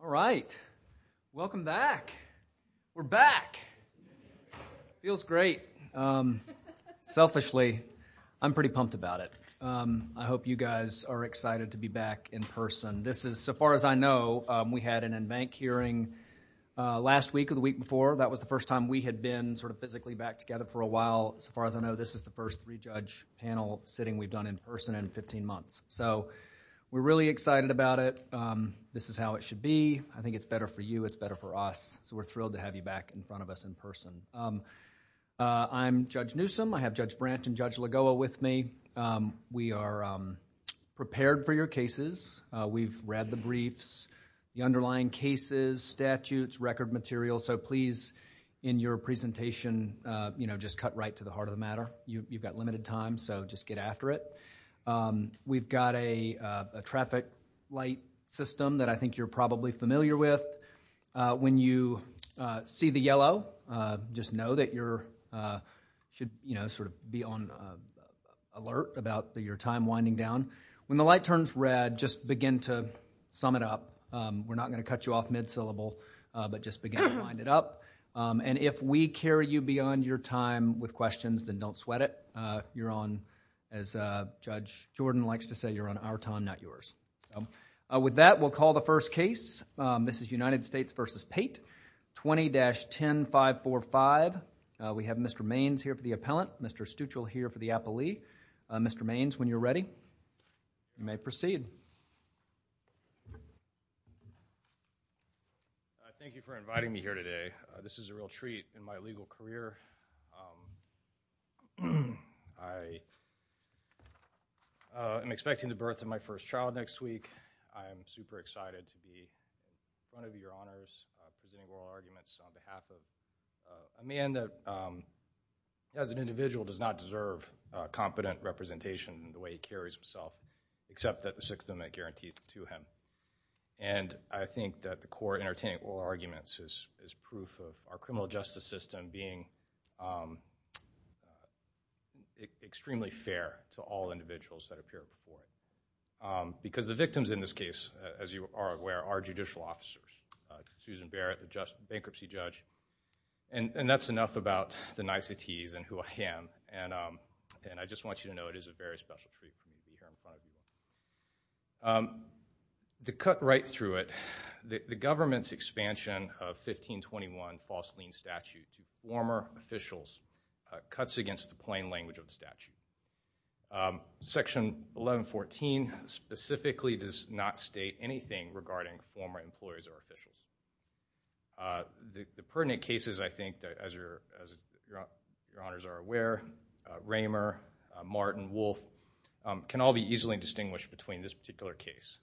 All right. Welcome back. We're back. Feels great. Selfishly, I'm pretty pumped about it. I hope you guys are excited to be back in person. This is, so far as I know, we had an in-bank hearing last week or the week before. That was the first time we had been sort of physically back together for a while. So far as I know, this is the first three-judge panel we've done in person in 15 months. So we're really excited about it. This is how it should be. I think it's better for you. It's better for us. So we're thrilled to have you back in front of us in person. I'm Judge Newsom. I have Judge Branch and Judge Lagoa with me. We are prepared for your cases. We've read the briefs, the underlying cases, statutes, record materials. So please, in your presentation, just cut right to the heart of the matter. You've got limited time, so just get after it. We've got a traffic light system that I think you're probably familiar with. When you see the yellow, just know that you're should, you know, sort of be on alert about your time winding down. When the light turns red, just begin to sum it up. We're not going to cut you off mid-syllable, but just begin to wind it up. And if we carry you beyond your time with questions, then don't sweat it. You're on, as Judge Jordan likes to say, you're on our time, not yours. With that, we'll call the first case. This is United States v. Pate, 20-10545. We have Mr. Maines here for the appellant, Mr. Stuchel here for the appellee. Mr. Maines, when you're ready, you may proceed. Thank you for inviting me here today. This is a real treat in my legal career. I am expecting the birth of my first child next week. I am super excited to be in front of your honors presenting oral arguments on behalf of a man that, as an individual, does not deserve competent representation in the way he carries himself, except that the system guarantees it to him. I think that the core of entertaining oral arguments is proof of our criminal justice system being extremely fair to all individuals that appear before it. Because the victims in this case, as you are aware, are judicial officers. Susan Barrett, the bankruptcy judge. And that's enough about the niceties and who I am. And I just want you to know it is a very special treat for me to be here in front of you. To cut right through it, the government's expansion of 1521 false lien statute to former officials cuts against the plain language of the statute. Section 1114 specifically does not state anything regarding former employees or officials. The pertinent cases, I think, as your honors are aware, Raymer, Martin, Wolf, can all be easily distinguished between this particular case.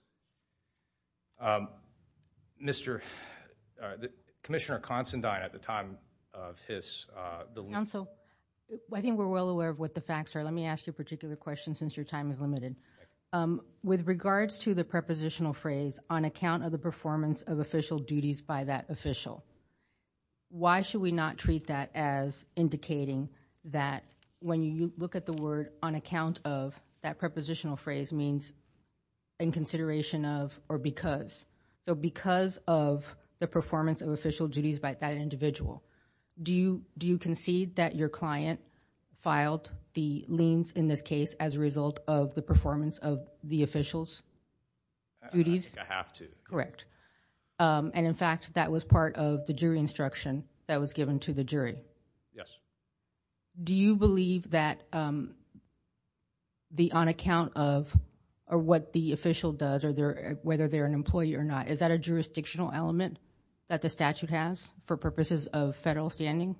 Commissioner Considine, at the time of his... Counsel, I think we're well aware of what the facts are. Let me ask you a particular question since your time is limited. With regards to the prepositional phrase, on account of the performance of official duties by that official, why should we not treat that as indicating that when you look at the word, on account of, that prepositional phrase means in consideration of or because. So because of the performance of official duties by that individual, do you concede that your client filed the liens in this case as a result of the performance of the official's duties? I think I have to. Correct. And in fact, that was part of the jury instruction that was given to the jury. Yes. Do you believe that the on account of or what the official does, whether they're an employee or not, is that a jurisdictional element that the statute has for purposes of federal standing?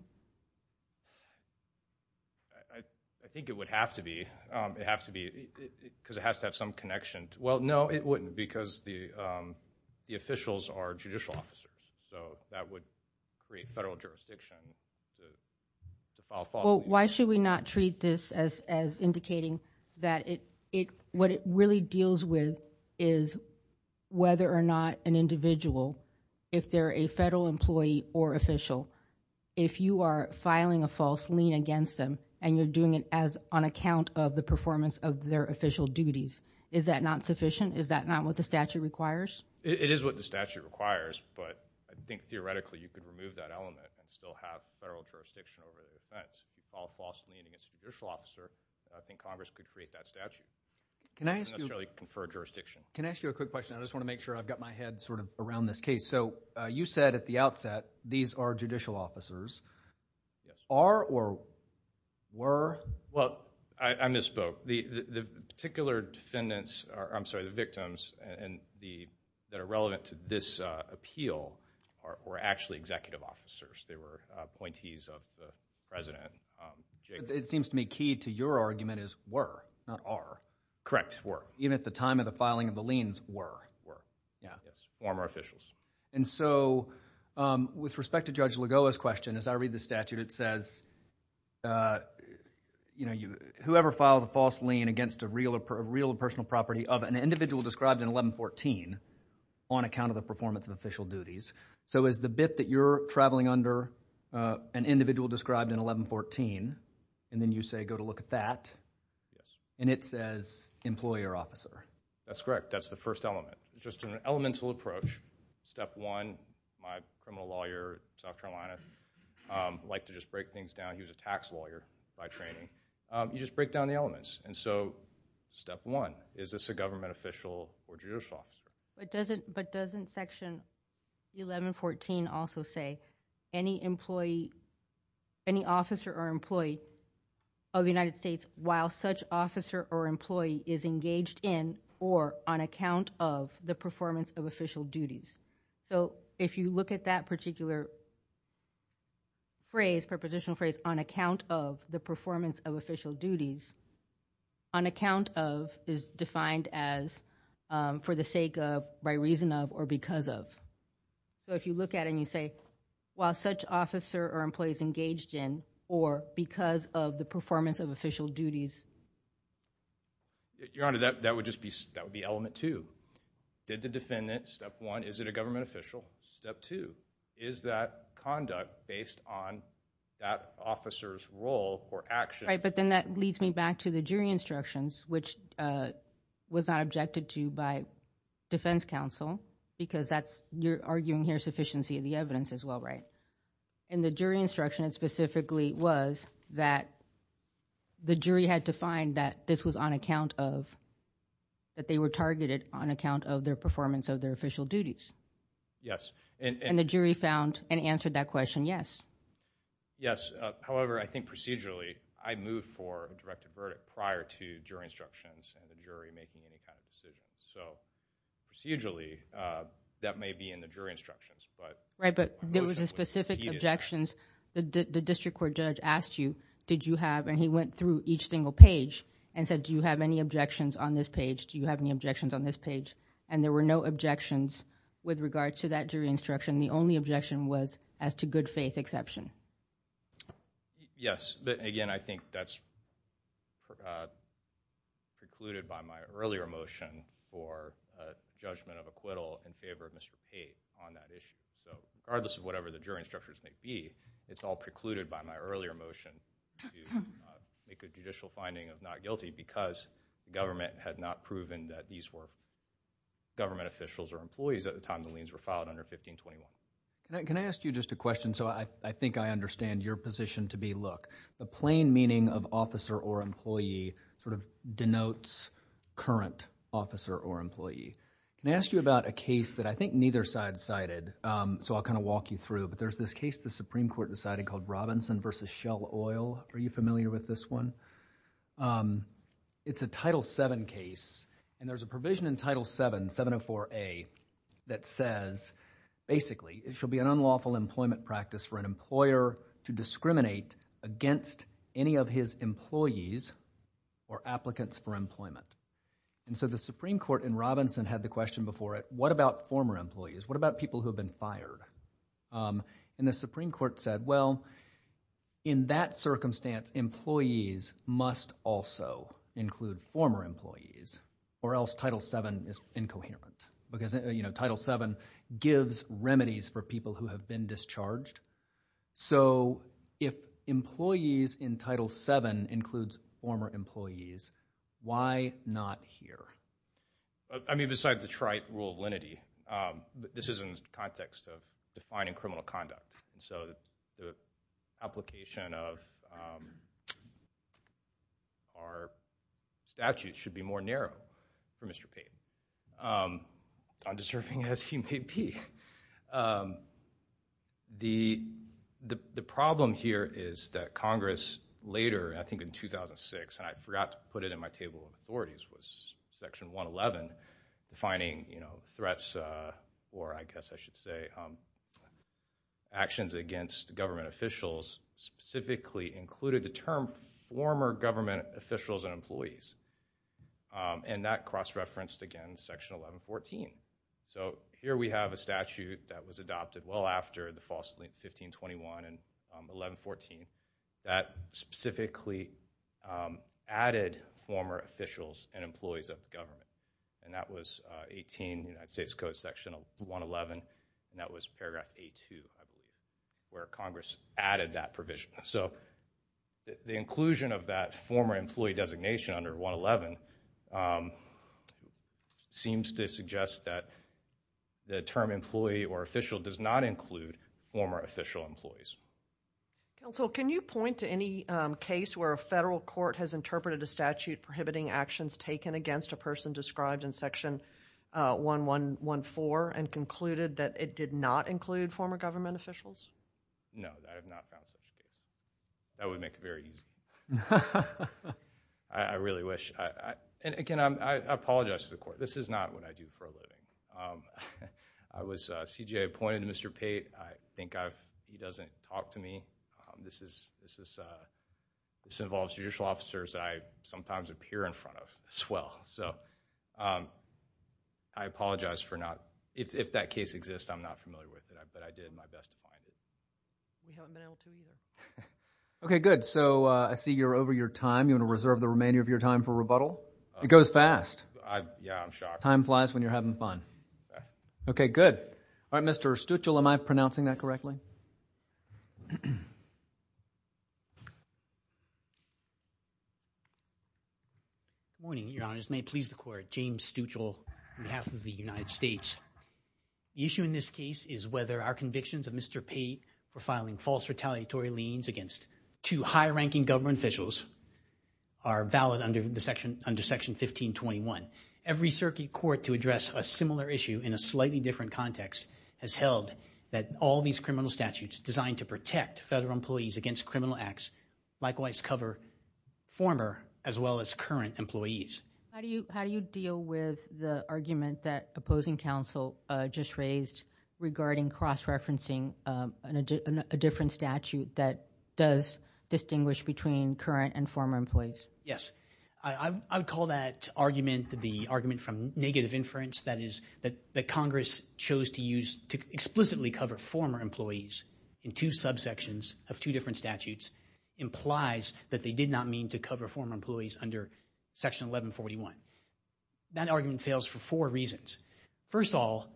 I think it would have to be because it has to have some connection. Well, no, it wouldn't because the officials are judicial officers. So that would create federal jurisdiction to file false liens. Well, why should we not treat this as indicating that what it really deals with is whether or not an individual, if they're a federal employee or official, if you are filing a false lien against them and you're doing it on account of the performance of their official duties, is that not sufficient? Is that not what the statute requires? It is what the statute requires, but I think theoretically you could remove that element and still have federal jurisdiction over the offense. If you file a false lien against a judicial officer, I think Congress could create that statute. It doesn't necessarily confer jurisdiction. Can I ask you a quick question? I just want to make sure I've got my head sort of around this case. So you said at the outset these are judicial officers. Yes. Are or were? Well, I misspoke. The particular defendants, I'm sorry, the victims that are relevant to this appeal are actually executive officers. They were appointees of the President. It seems to me key to your argument is were, not are. Correct, were. Even at the time of the filing of the liens, were. Were. Yes. Former officials. And so with respect to Judge Lagoa's question, as I read the statute it says, whoever files a false lien against a real personal property of an individual described in 1114 on account of the performance of official duties, so is the bit that you're traveling under an individual described in 1114, and then you say go to look at that, and it says employer officer. That's correct. That's the first element. Just an elemental approach. Step one, my criminal lawyer in South Carolina, I like to just break things down. He was a tax lawyer by training. You just break down the elements. And so step one, is this a government official or judicial officer? But doesn't section 1114 also say any employee, any officer or employee of the United States, while such officer or employee is engaged in or on account of the performance of official duties? So if you look at that particular phrase, prepositional phrase, on account of the performance of official duties, on account of is defined as for the sake of, by reason of, or because of. So if you look at it and you say while such officer or employee is engaged in or because of the performance of official duties. Your Honor, that would just be element two. Did the defendant, step one, is it a government official? Step two, is that conduct based on that officer's role or action? Right, but then that leads me back to the jury instructions, which was not objected to by defense counsel, because that's, you're arguing here, sufficiency of the evidence as well, right? And the jury instruction specifically was that the jury had to find that this was on account of, that they were targeted on account of their performance of their official duties. Yes. And the jury found and answered that question, yes. Yes. However, I think procedurally, I moved for a directed verdict prior to jury instructions and the jury making any kind of decisions. So procedurally, that may be in the jury instructions, but... Right, but there was a specific objections. The district court judge asked you, did you have, and he went through each single page and said, do you have any objections on this page? Do you have any objections on this page? And there were no objections with regard to that jury instruction. The only objection was as to good faith exception. Yes, but again, I think that's precluded by my earlier motion for judgment of acquittal in favor of Mr. Tate on that issue. So regardless of whatever the jury instructions may be, it's all precluded by my earlier motion to make a judicial finding of not guilty because the government had not proven that these were government officials or employees at the time the liens were filed under 1521. Can I ask you just a question? So I think I understand your position to be, look, the plain meaning of officer or employee sort of denotes current officer or employee. Can I ask you about a case that I think neither side cited? So I'll kind of walk you through, but there's this case the Supreme Court decided called Robinson v. Shell Oil. Are you familiar with this one? It's a Title VII case, and there's a provision in Title VII, 704A, that says basically it shall be an unlawful employment practice for an employer to discriminate against any of his employees or applicants for employment. And so the Supreme Court in Robinson had the question before it, what about former employees? What about people who have been fired? And the Supreme Court said, well, in that circumstance, employees must also include former employees or else Title VII is incoherent because Title VII gives remedies for people who have been discharged. So if employees in Title VII includes former employees, why not here? I mean, besides the trite rule of lenity, this is in the context of defining criminal conduct. And so the application of our statute should be more narrow for Mr. Payton, undeserving as he may be. The problem here is that Congress later, I think in 2006, and I forgot to put it in my table of authorities, was Section 111, defining threats or I guess I should say actions against government officials specifically included the term former government officials and employees. And that cross-referenced, again, Section 1114. So here we have a statute that was adopted well after the false 1521 and 1114 that specifically added former officials and employees of government. And that was 18 United States Code Section 111, and that was Paragraph A2 where Congress added that provision. So the inclusion of that former employee designation under 111 seems to suggest that the term employee or official does not include former official employees. Counsel, can you point to any case where a federal court has interpreted a statute prohibiting actions taken against a person described in Section 1114 and concluded that it did not include former government officials? No, I have not found such a case. That would make it very easy. I really wish. And again, I apologize to the court. This is not what I do for a living. I was CJA appointed to Mr. Payton. I think he doesn't talk to me. This involves judicial officers that I sometimes appear in front of as well. So I apologize if that case exists. I'm not familiar with it, but I did my best to find it. We haven't been able to either. Okay, good. So I see you're over your time. You want to reserve the remainder of your time for rebuttal? It goes fast. Yeah, I'm shocked. Time flies when you're having fun. Okay, good. All right, Mr. Stuchel, am I pronouncing that correctly? Good morning, Your Honors. May it please the Court. James Stuchel on behalf of the United States. The issue in this case is whether our convictions of Mr. Payton for filing false retaliatory liens against two high-ranking government officials are valid under Section 1521. Every circuit court to address a similar issue in a slightly different context has held that all these criminal statutes designed to protect federal employees against criminal acts likewise cover former as well as current employees. How do you deal with the argument that opposing counsel just raised regarding cross-referencing a different statute that does distinguish between current and former employees? Yes. I would call that argument the argument from negative inference, that is, that Congress chose to use to explicitly cover former employees in two subsections of two different statutes implies that they did not mean to cover former employees under Section 1141. That argument fails for four reasons. First of all,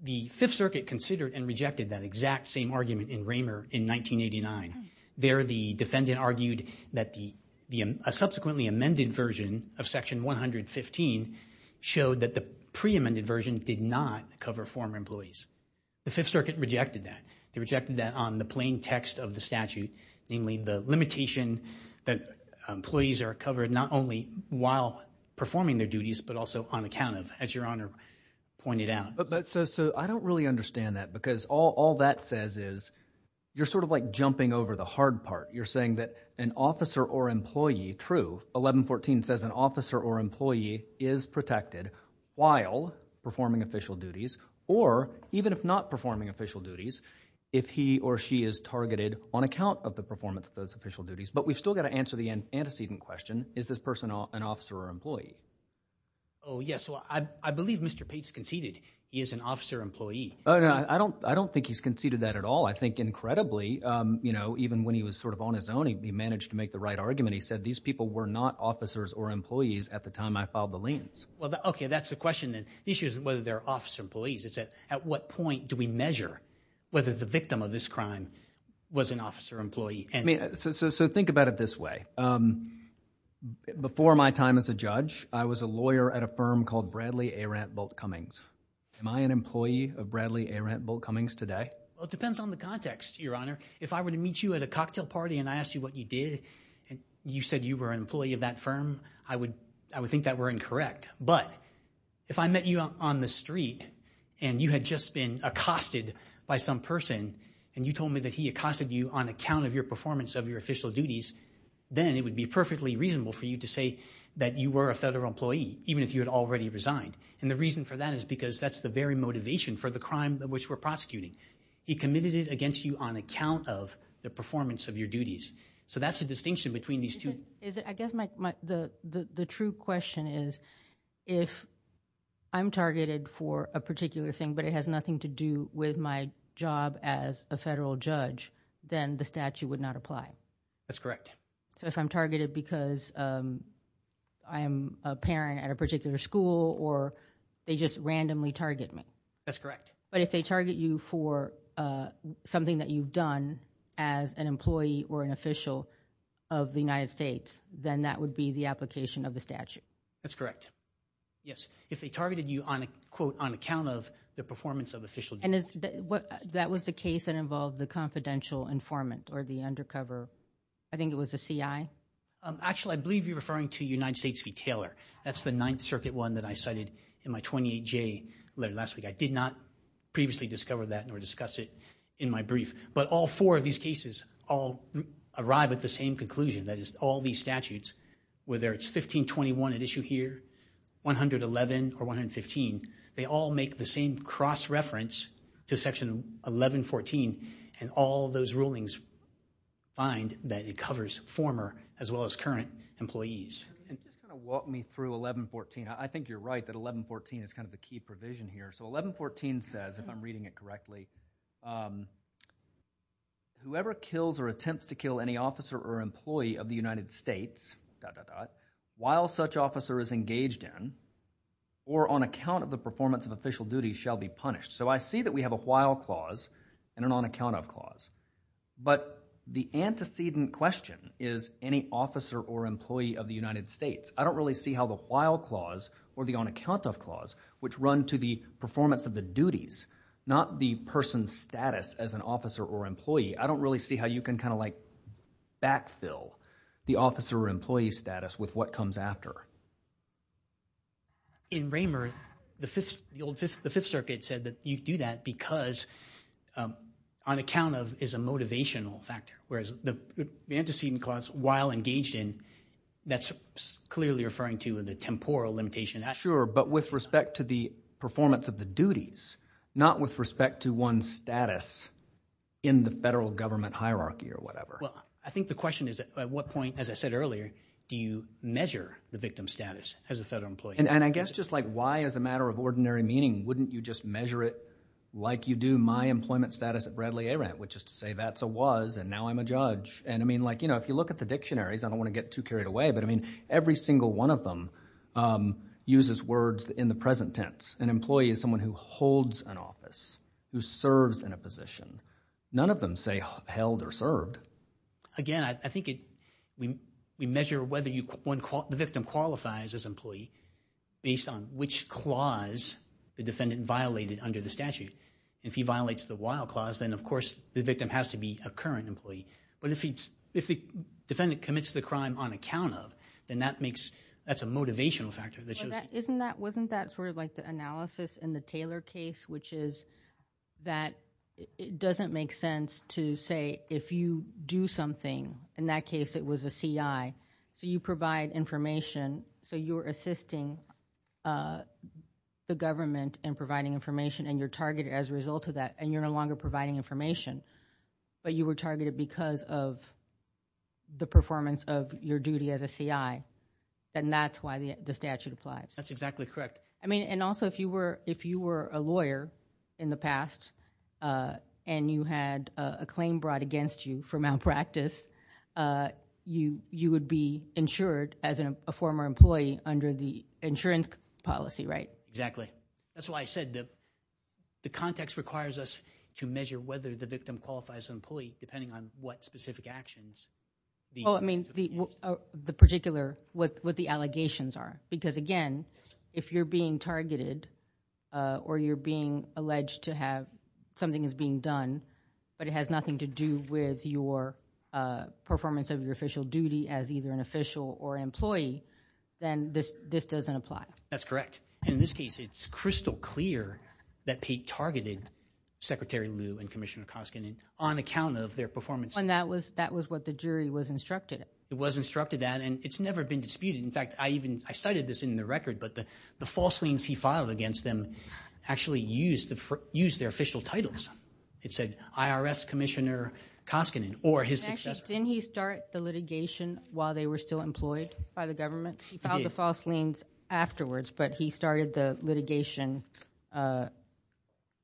the Fifth Circuit considered and rejected that exact same argument in Raymer in 1989. There the defendant argued that a subsequently amended version of Section 115 showed that the pre-amended version did not cover former employees. The Fifth Circuit rejected that. They rejected that on the plain text of the statute, namely the limitation that employees are covered not only while performing their duties but also on account of, as Your Honor pointed out. So I don't really understand that because all that says is you're sort of like jumping over the hard part. You're saying that an officer or employee, true, 1114 says an officer or employee is protected while performing official duties or even if not performing official duties if he or she is targeted on account of the performance of those official duties. But we've still got to answer the antecedent question. Is this person an officer or employee? Oh, yes. I believe Mr. Pate's conceded he is an officer or employee. I don't think he's conceded that at all. I think incredibly, you know, even when he was sort of on his own, he managed to make the right argument. He said these people were not officers or employees at the time I filed the liens. Okay, that's the question then. The issue is whether they're officer or employees. It's at what point do we measure whether the victim of this crime was an officer or employee. So think about it this way. Before my time as a judge, I was a lawyer at a firm called Bradley A. Rantbolt Cummings. Am I an employee of Bradley A. Rantbolt Cummings today? Well, it depends on the context, Your Honor. If I were to meet you at a cocktail party and I asked you what you did and you said you were an employee of that firm, I would think that were incorrect. But if I met you on the street and you had just been accosted by some person and you told me that he accosted you on account of your performance of your official duties, then it would be perfectly reasonable for you to say that you were a federal employee, even if you had already resigned. And the reason for that is because that's the very motivation for the crime which we're prosecuting. He committed it against you on account of the performance of your duties. So that's the distinction between these two. I guess the true question is if I'm targeted for a particular thing but it has nothing to do with my job as a federal judge, then the statute would not apply. That's correct. So if I'm targeted because I'm a parent at a particular school or they just randomly target me. That's correct. But if they target you for something that you've done as an employee or an official of the United States, then that would be the application of the statute. That's correct. Yes. If they targeted you on account of the performance of official duties. And that was the case that involved the confidential informant or the undercover, I think it was the CI? Actually, I believe you're referring to United States v. Taylor. That's the Ninth Circuit one that I cited in my 28J letter last week. I did not previously discover that nor discuss it in my brief. But all four of these cases all arrive at the same conclusion. That is, all these statutes, whether it's 1521 at issue here, 111, or 115, they all make the same cross-reference to Section 1114, and all those rulings find that it covers former as well as current employees. Just kind of walk me through 1114. I think you're right that 1114 is kind of the key provision here. So 1114 says, if I'm reading it correctly, whoever kills or attempts to kill any officer or employee of the United States, dot, dot, dot, while such officer is engaged in or on account of the performance of official duties shall be punished. So I see that we have a while clause and an on account of clause. But the antecedent question is any officer or employee of the United States. I don't really see how the while clause or the on account of clause, which run to the performance of the duties, not the person's status as an officer or employee, I don't really see how you can kind of like backfill the officer or employee status with what comes after. In Raymer, the Fifth Circuit said that you do that because on account of is a motivational factor, whereas the antecedent clause, while engaged in, that's clearly referring to the temporal limitation. Sure, but with respect to the performance of the duties, not with respect to one's status in the federal government hierarchy or whatever. Well, I think the question is at what point, as I said earlier, do you measure the victim status as a federal employee? And I guess just like why as a matter of ordinary meaning wouldn't you just measure it like you do my employment status at Bradley A-Rant, which is to say that's a was and now I'm a judge. If you look at the dictionaries, I don't want to get too carried away, but every single one of them uses words in the present tense. An employee is someone who holds an office, who serves in a position. None of them say held or served. Based on which clause the defendant violated under the statute. If he violates the while clause, then of course the victim has to be a current employee. But if the defendant commits the crime on account of, then that's a motivational factor. Wasn't that sort of like the analysis in the Taylor case, which is that it doesn't make sense to say if you do something, in that case it was a C.I., so you provide information, so you're assisting the government in providing information and you're targeted as a result of that and you're no longer providing information, but you were targeted because of the performance of your duty as a C.I., then that's why the statute applies. That's exactly correct. I mean and also if you were a lawyer in the past and you had a claim brought against you for malpractice, you would be insured as a former employee under the insurance policy, right? Exactly. That's why I said the context requires us to measure whether the victim qualifies as an employee depending on what specific actions. Oh, I mean the particular, what the allegations are. Because again, if you're being targeted or you're being alleged to have something that's being done, but it has nothing to do with your performance of your official duty as either an official or employee, then this doesn't apply. That's correct. And in this case, it's crystal clear that Pate targeted Secretary Lew and Commissioner Koskinen on account of their performance. And that was what the jury was instructed at. It was instructed at and it's never been disputed. In fact, I cited this in the record, but the false liens he filed against them actually used their official titles. It said IRS Commissioner Koskinen or his successor. Actually, didn't he start the litigation while they were still employed by the government? He filed the false liens afterwards, but he started the litigation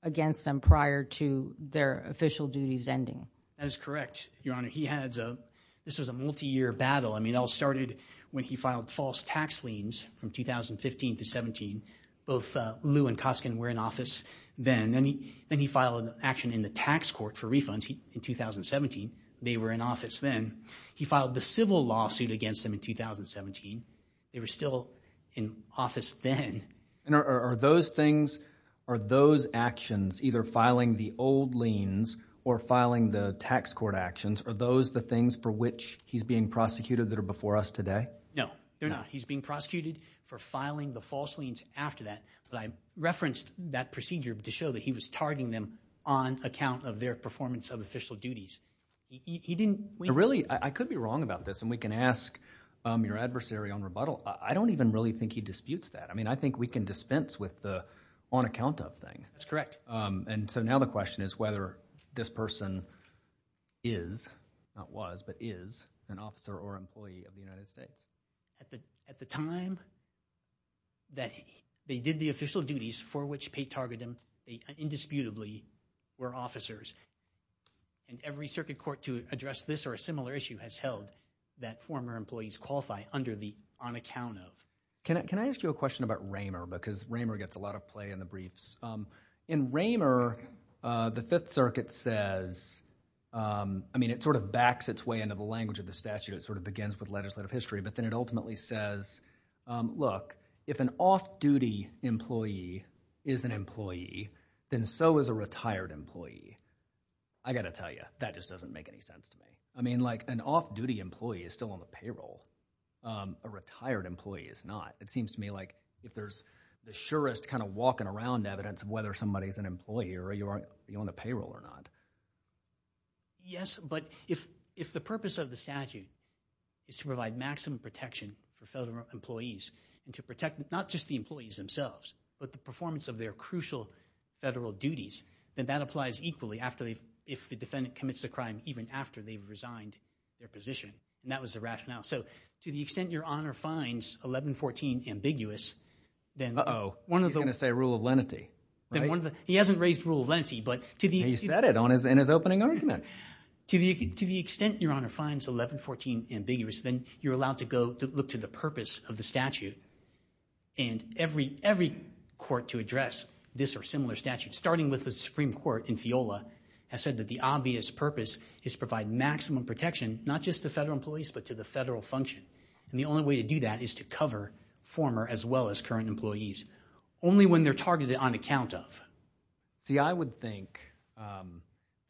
against them prior to their official duties ending. That is correct, Your Honor. He had a, this was a multi-year battle. I mean it all started when he filed false tax liens from 2015 to 17. Both Lew and Koskinen were in office then. And then he filed an action in the tax court for refunds in 2017. They were in office then. He filed the civil lawsuit against them in 2017. They were still in office then. And are those things, are those actions, either filing the old liens or filing the tax court actions, are those the things for which he's being prosecuted that are before us today? No, they're not. He's being prosecuted for filing the false liens after that. But I referenced that procedure to show that he was targeting them on account of their performance of official duties. He didn't. Really, I could be wrong about this, and we can ask your adversary on rebuttal. I don't even really think he disputes that. I mean I think we can dispense with the on account of thing. That's correct. And so now the question is whether this person is, not was, but is an officer or employee of the United States. At the time that they did the official duties for which Pate targeted them, they indisputably were officers. And every circuit court to address this or a similar issue has held that former employees qualify under the on account of. Can I ask you a question about Raymer? Because Raymer gets a lot of play in the briefs. In Raymer, the Fifth Circuit says, I mean it sort of backs its way into the language of the statute. It sort of begins with legislative history, but then it ultimately says, look, if an off-duty employee is an employee, then so is a retired employee. I got to tell you, that just doesn't make any sense to me. I mean like an off-duty employee is still on the payroll. A retired employee is not. It seems to me like if there's the surest kind of walking around evidence of whether somebody is an employee or you own a payroll or not. Yes, but if the purpose of the statute is to provide maximum protection for federal employees and to protect not just the employees themselves, but the performance of their crucial federal duties, then that applies equally if the defendant commits a crime even after they've resigned their position. And that was the rationale. So to the extent your Honor finds 1114 ambiguous, then one of the – Uh-oh, he's going to say rule of lenity, right? He hasn't raised rule of lenity, but to the – He said it in his opening argument. To the extent your Honor finds 1114 ambiguous, then you're allowed to go look to the purpose of the statute. And every court to address this or similar statutes, starting with the Supreme Court in FIOLA, has said that the obvious purpose is to provide maximum protection not just to federal employees, but to the federal function. And the only way to do that is to cover former as well as current employees, only when they're targeted on account of. See, I would think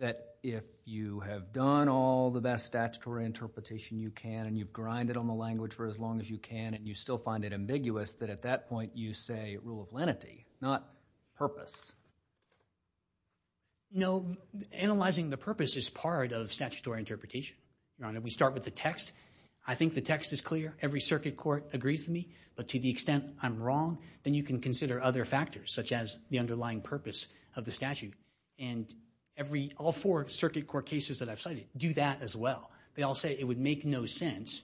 that if you have done all the best statutory interpretation you can and you've grinded on the language for as long as you can and you still find it ambiguous, that at that point you say rule of lenity, not purpose. No, analyzing the purpose is part of statutory interpretation. Your Honor, we start with the text. I think the text is clear. Every circuit court agrees with me. But to the extent I'm wrong, then you can consider other factors such as the underlying purpose of the statute. And all four circuit court cases that I've cited do that as well. They all say it would make no sense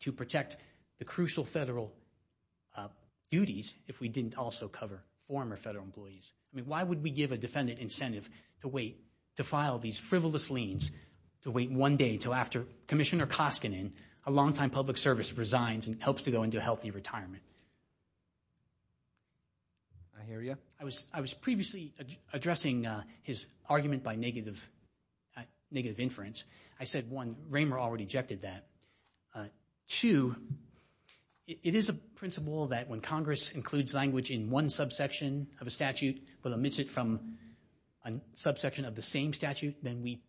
to protect the crucial federal duties if we didn't also cover former federal employees. I mean, why would we give a defendant incentive to file these frivolous liens to wait one day until after Commissioner Koskinen, a longtime public service, resigns and hopes to go into a healthy retirement? I hear you. I was previously addressing his argument by negative inference. I said, one, Raymer already objected to that. Two, it is a principle that when Congress includes language in one subsection of a statute but omits it from a subsection of the same statute, then we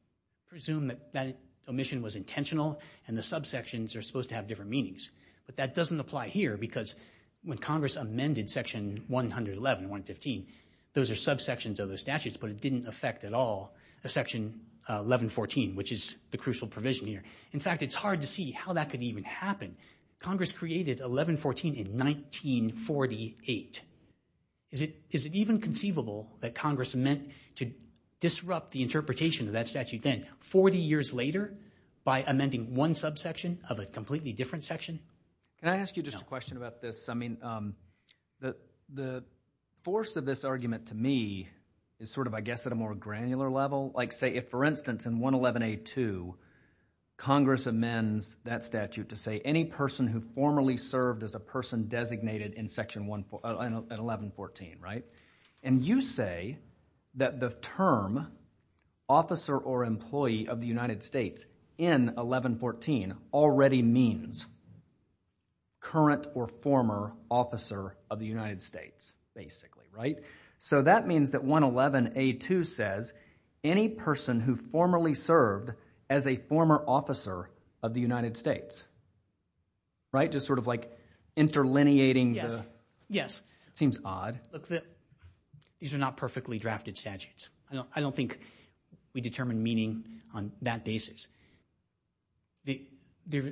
presume that that omission was intentional and the subsections are supposed to have different meanings. But that doesn't apply here because when Congress amended Section 111, 115, those are subsections of the statutes, but it didn't affect at all Section 1114, which is the crucial provision here. In fact, it's hard to see how that could even happen. Congress created 1114 in 1948. Is it even conceivable that Congress meant to disrupt the interpretation of that statute then, 40 years later, by amending one subsection of a completely different section? Can I ask you just a question about this? I mean, the force of this argument to me is sort of, I guess, at a more granular level. Like, say, if, for instance, in 111A2, Congress amends that statute to say any person who formerly served as a person designated in 1114, right? And you say that the term officer or employee of the United States in 1114 already means current or former officer of the United States, basically, right? So that means that 111A2 says any person who formerly served as a former officer of the United States, right? Just sort of, like, interlineating the... These are not perfectly drafted statutes. I don't think we determine meaning on that basis. This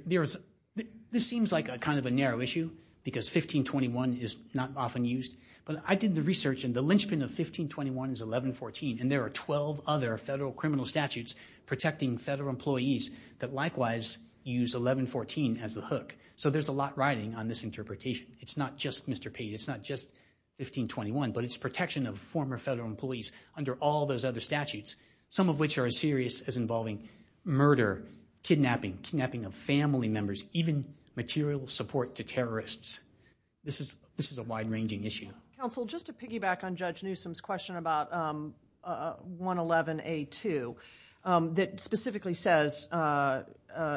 seems like kind of a narrow issue because 1521 is not often used, but I did the research, and the linchpin of 1521 is 1114, and there are 12 other federal criminal statutes protecting federal employees that likewise use 1114 as the hook. So there's a lot riding on this interpretation. It's not just Mr. Page, it's not just 1521, but it's protection of former federal employees under all those other statutes, some of which are as serious as involving murder, kidnapping, kidnapping of family members, even material support to terrorists. This is a wide-ranging issue. Counsel, just to piggyback on Judge Newsom's question about 111A2, that specifically says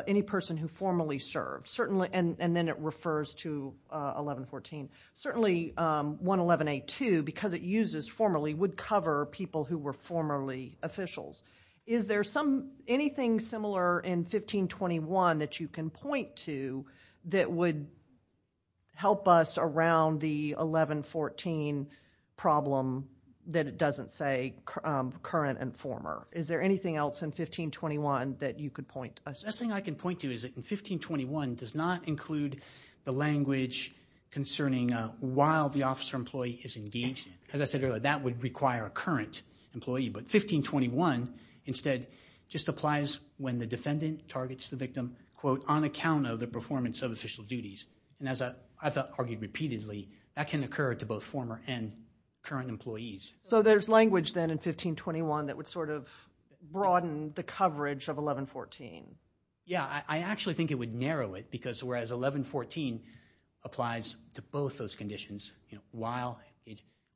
any person who formerly served, and then it refers to 1114. Certainly 111A2, because it uses formerly, would cover people who were formerly officials. Is there anything similar in 1521 that you can point to that would help us around the 1114 problem that it doesn't say current and former? Is there anything else in 1521 that you could point us to? The best thing I can point to is that 1521 does not include the language concerning while the officer employee is engaged. As I said earlier, that would require a current employee. But 1521 instead just applies when the defendant targets the victim on account of the performance of official duties. And as I've argued repeatedly, that can occur to both former and current employees. So there's language then in 1521 that would sort of broaden the coverage of 1114. Yeah, I actually think it would narrow it, because whereas 1114 applies to both those conditions, while...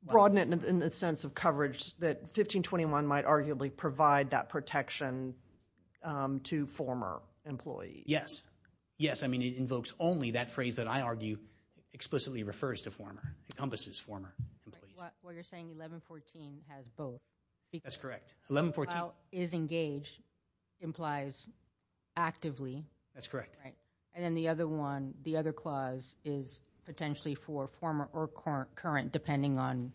Broaden it in the sense of coverage that 1521 might arguably provide that protection to former employees. Yes, yes, I mean, it invokes only that phrase that I argue explicitly refers to former, encompasses former employees. Well, you're saying 1114 has both. That's correct. While is engaged implies actively. That's correct. And then the other one, the other clause, is potentially for former or current, depending on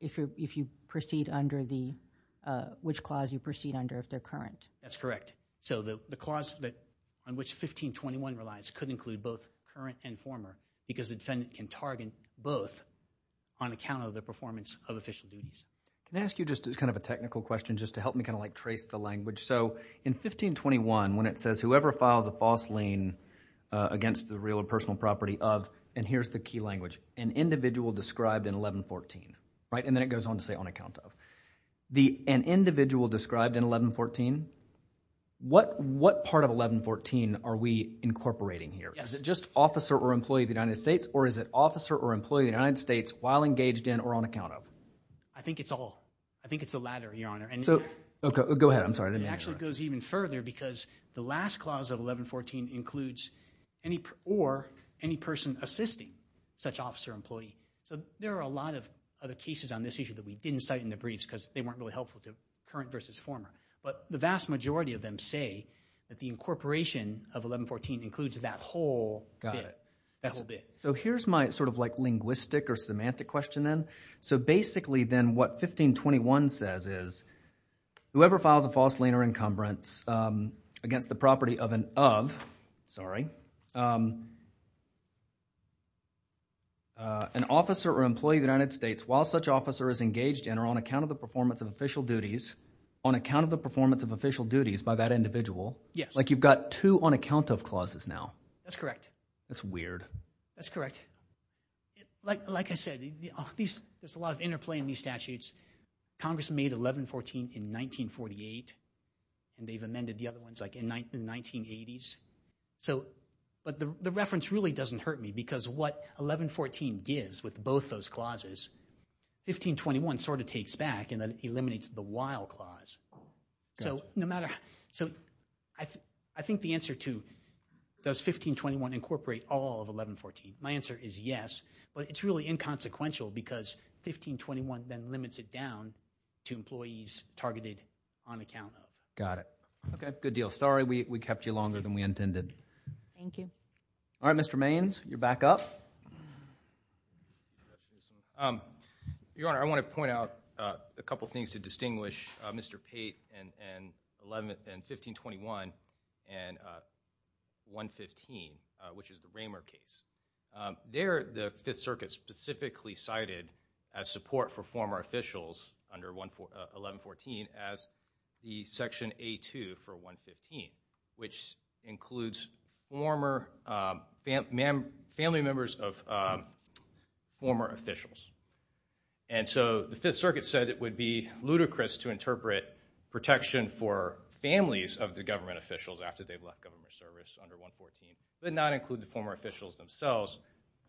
if you proceed under the... which clause you proceed under if they're current. That's correct. So the clause on which 1521 relies could include both current and former, because the defendant can target both on account of the performance of official duties. Can I ask you just kind of a technical question just to help me kind of like trace the language? So in 1521, when it says, whoever files a false lien against the real or personal property of, and here's the key language, an individual described in 1114, right? And then it goes on to say on account of. An individual described in 1114, what part of 1114 are we incorporating here? Is it just officer or employee of the United States, or is it officer or employee of the United States while engaged in or on account of? I think it's all. I think it's the latter, Your Honor. Go ahead, I'm sorry. It actually goes even further, because the last clause of 1114 includes or any person assisting such officer or employee. So there are a lot of other cases on this issue that we didn't cite in the briefs, because they weren't really helpful to current versus former. But the vast majority of them say that the incorporation of 1114 includes that whole bit. So here's my sort of like linguistic or semantic question then. So basically then what 1521 says is whoever files a false lien or encumbrance against the property of an of, sorry, an officer or employee of the United States while such officer is engaged in or on account of the performance of official duties, on account of the performance of official duties by that individual. Yes. Like you've got two on account of clauses now. That's correct. That's weird. That's correct. Like I said, there's a lot of interplay in these statutes. Congress made 1114 in 1948, and they've amended the other ones like in the 1980s. But the reference really doesn't hurt me, because what 1114 gives with both those clauses, 1521 sort of takes back and eliminates the while clause. So I think the answer to does 1521 incorporate all of 1114, my answer is yes. But it's really inconsequential, because 1521 then limits it down to employees targeted on account of. Got it. Okay, good deal. Sorry we kept you longer than we intended. Thank you. All right, Mr. Maynes, you're back up. Your Honor, I want to point out a couple things to distinguish Mr. Pate and 11th and 1521 and 115, which is the Raymer case. There the Fifth Circuit specifically cited as support for former officials under 1114 as the section A2 for 115, which includes family members of former officials. And so the Fifth Circuit said it would be ludicrous to interpret protection for families of the government officials after they've left government service under 114, but not include the former officials themselves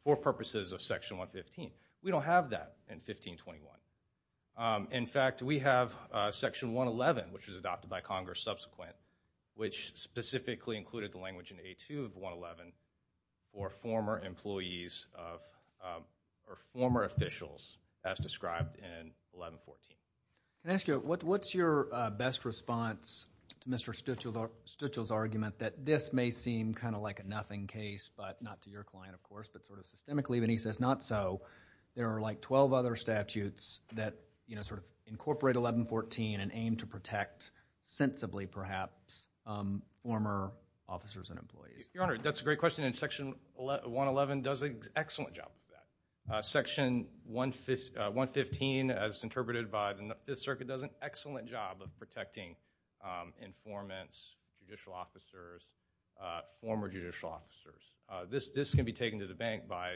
for purposes of section 115. We don't have that in 1521. In fact, we have section 111, which was adopted by Congress subsequent, which specifically included the language in A2 of 111 for former employees or former officials as described in 1114. Can I ask you, what's your best response to Mr. Stuchel's argument that this may seem kind of like a nothing case, but not to your client, of course, but sort of systemically when he says not so, there are like 12 other statutes that sort of incorporate 1114 and aim to protect sensibly, perhaps, former officers and employees? Your Honor, that's a great question, and section 111 does an excellent job of that. Section 115, as interpreted by the Fifth Circuit, does an excellent job of protecting informants, judicial officers, former judicial officers. This can be taken to the bank by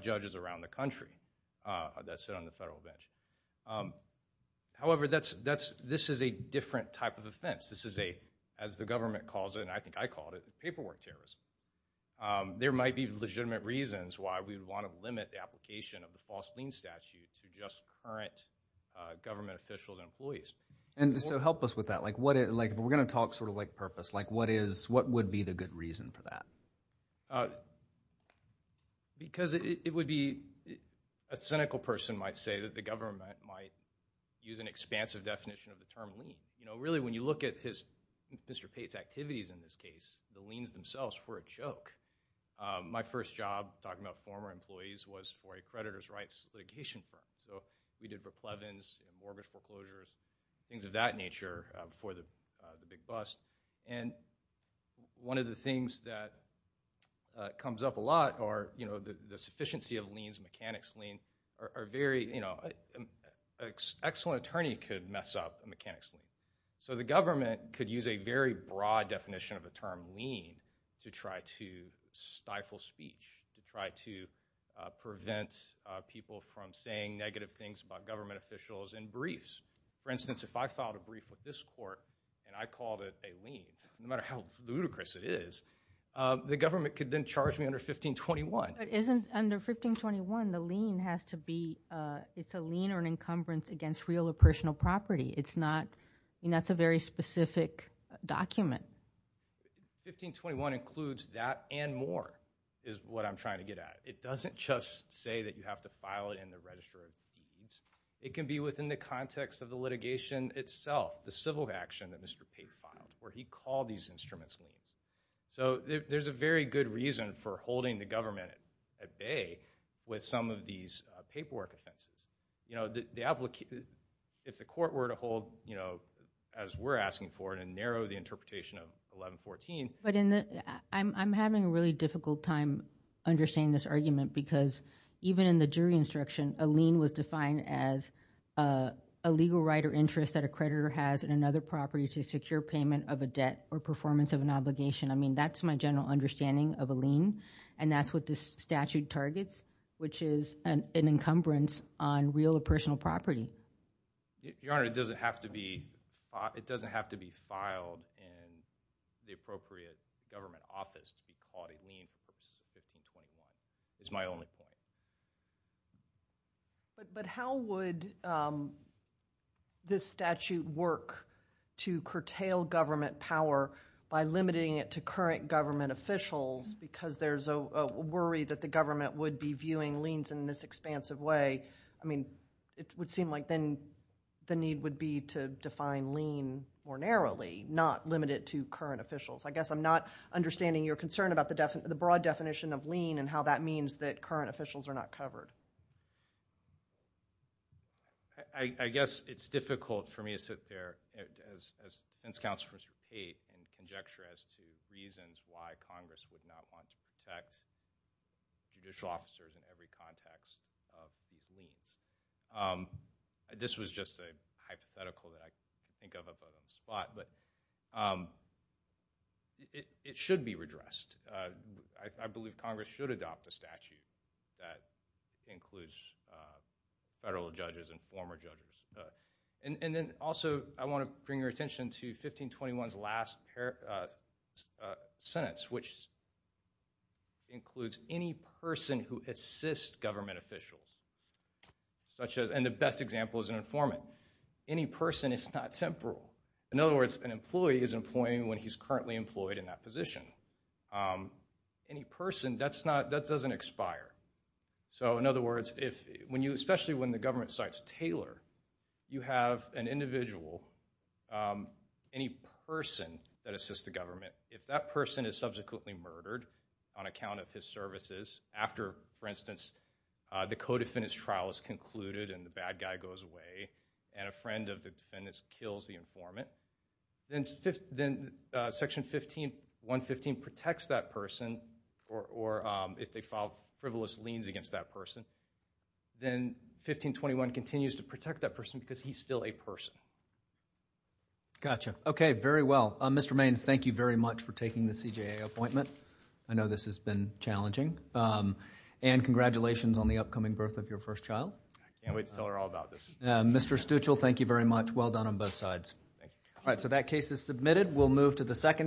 judges around the country that sit on the federal bench. However, this is a different type of offense. This is a, as the government calls it, and I think I called it, paperwork terrorism. There might be legitimate reasons why we would want to limit the application of the false lien statute to just current government officials and employees. And so help us with that. Like if we're gonna talk sort of like purpose, like what would be the good reason for that? Because it would be, a cynical person might say that the government might use an expansive definition of the term lien. You know, really when you look at his, Mr. Pate's activities in this case, the liens themselves were a joke. My first job talking about former employees was for a creditor's rights litigation firm. So we did replevance, mortgage foreclosures, things of that nature before the big bust. And one of the things that comes up a lot are the sufficiency of liens, mechanics lien, are very, you know, an excellent attorney could mess up a mechanics lien. So the government could use a very broad definition of the term lien to try to stifle speech, to try to prevent people from saying negative things about government officials in briefs. For instance, if I filed a brief with this court and I called it a lien, no matter how ludicrous it is, the government could then charge me under 1521. It isn't under 1521. The lien has to be, it's a lien or an encumbrance against real or personal property. It's not, I mean, that's a very specific document. 1521 includes that and more, is what I'm trying to get at. It doesn't just say that you have to file it in the register of liens. It can be within the context of the litigation itself, the civil action that Mr. Pate filed, where he called these instruments liens. So there's a very good reason for holding the government at bay with some of these paperwork offenses. If the court were to hold, as we're asking for it, and narrow the interpretation of 1114. I'm having a really difficult time understanding this argument because even in the jury instruction, a lien was defined as a legal right or interest that a creditor has in another property to secure payment of a debt or performance of an obligation. I mean, that's my general understanding of a lien, and that's what this statute targets, which is an encumbrance on real or personal property. Your Honor, it doesn't have to be filed in the appropriate government office to be called a lien for 1521. It's my only point. But how would this statute work to curtail government power by limiting it to current government officials because there's a worry that the government would be viewing liens in this expansive way. I mean, it would seem like then the need would be to define lien more narrowly, not limit it to current officials. I guess I'm not understanding your concern about the broad definition of lien and how that means that current officials are not covered. I guess it's difficult for me to sit there as defense counsel for state in conjecture as to reasons why Congress would not want to protect judicial officers in every context of these liens. This was just a hypothetical that I think of up out of the spot, but it should be redressed. I believe Congress should adopt a statute that includes federal judges and former judges. And then also I want to bring your attention to 1521's last sentence, which includes any person who assists government officials. And the best example is an informant. Any person is not temporal. In other words, an employee is employing when he's currently employed in that position. Any person, that doesn't expire. So in other words, especially when the government cites Taylor, you have an individual, any person that assists the government, if that person is subsequently murdered on account of his services, after, for instance, the co-defendant's trial is concluded and the bad guy goes away and a friend of the defendant's kills the informant, then Section 115 protects that person or if they file frivolous liens against that person. Then 1521 continues to protect that person because he's still a person. Gotcha. Okay, very well. Mr. Maynes, thank you very much for taking the CJA appointment. I know this has been challenging. And congratulations on the upcoming birth of your first child. Can't wait to tell her all about this. Mr. Stuchel, thank you very much. Well done on both sides. All right, so that case is submitted. We'll move to the second case.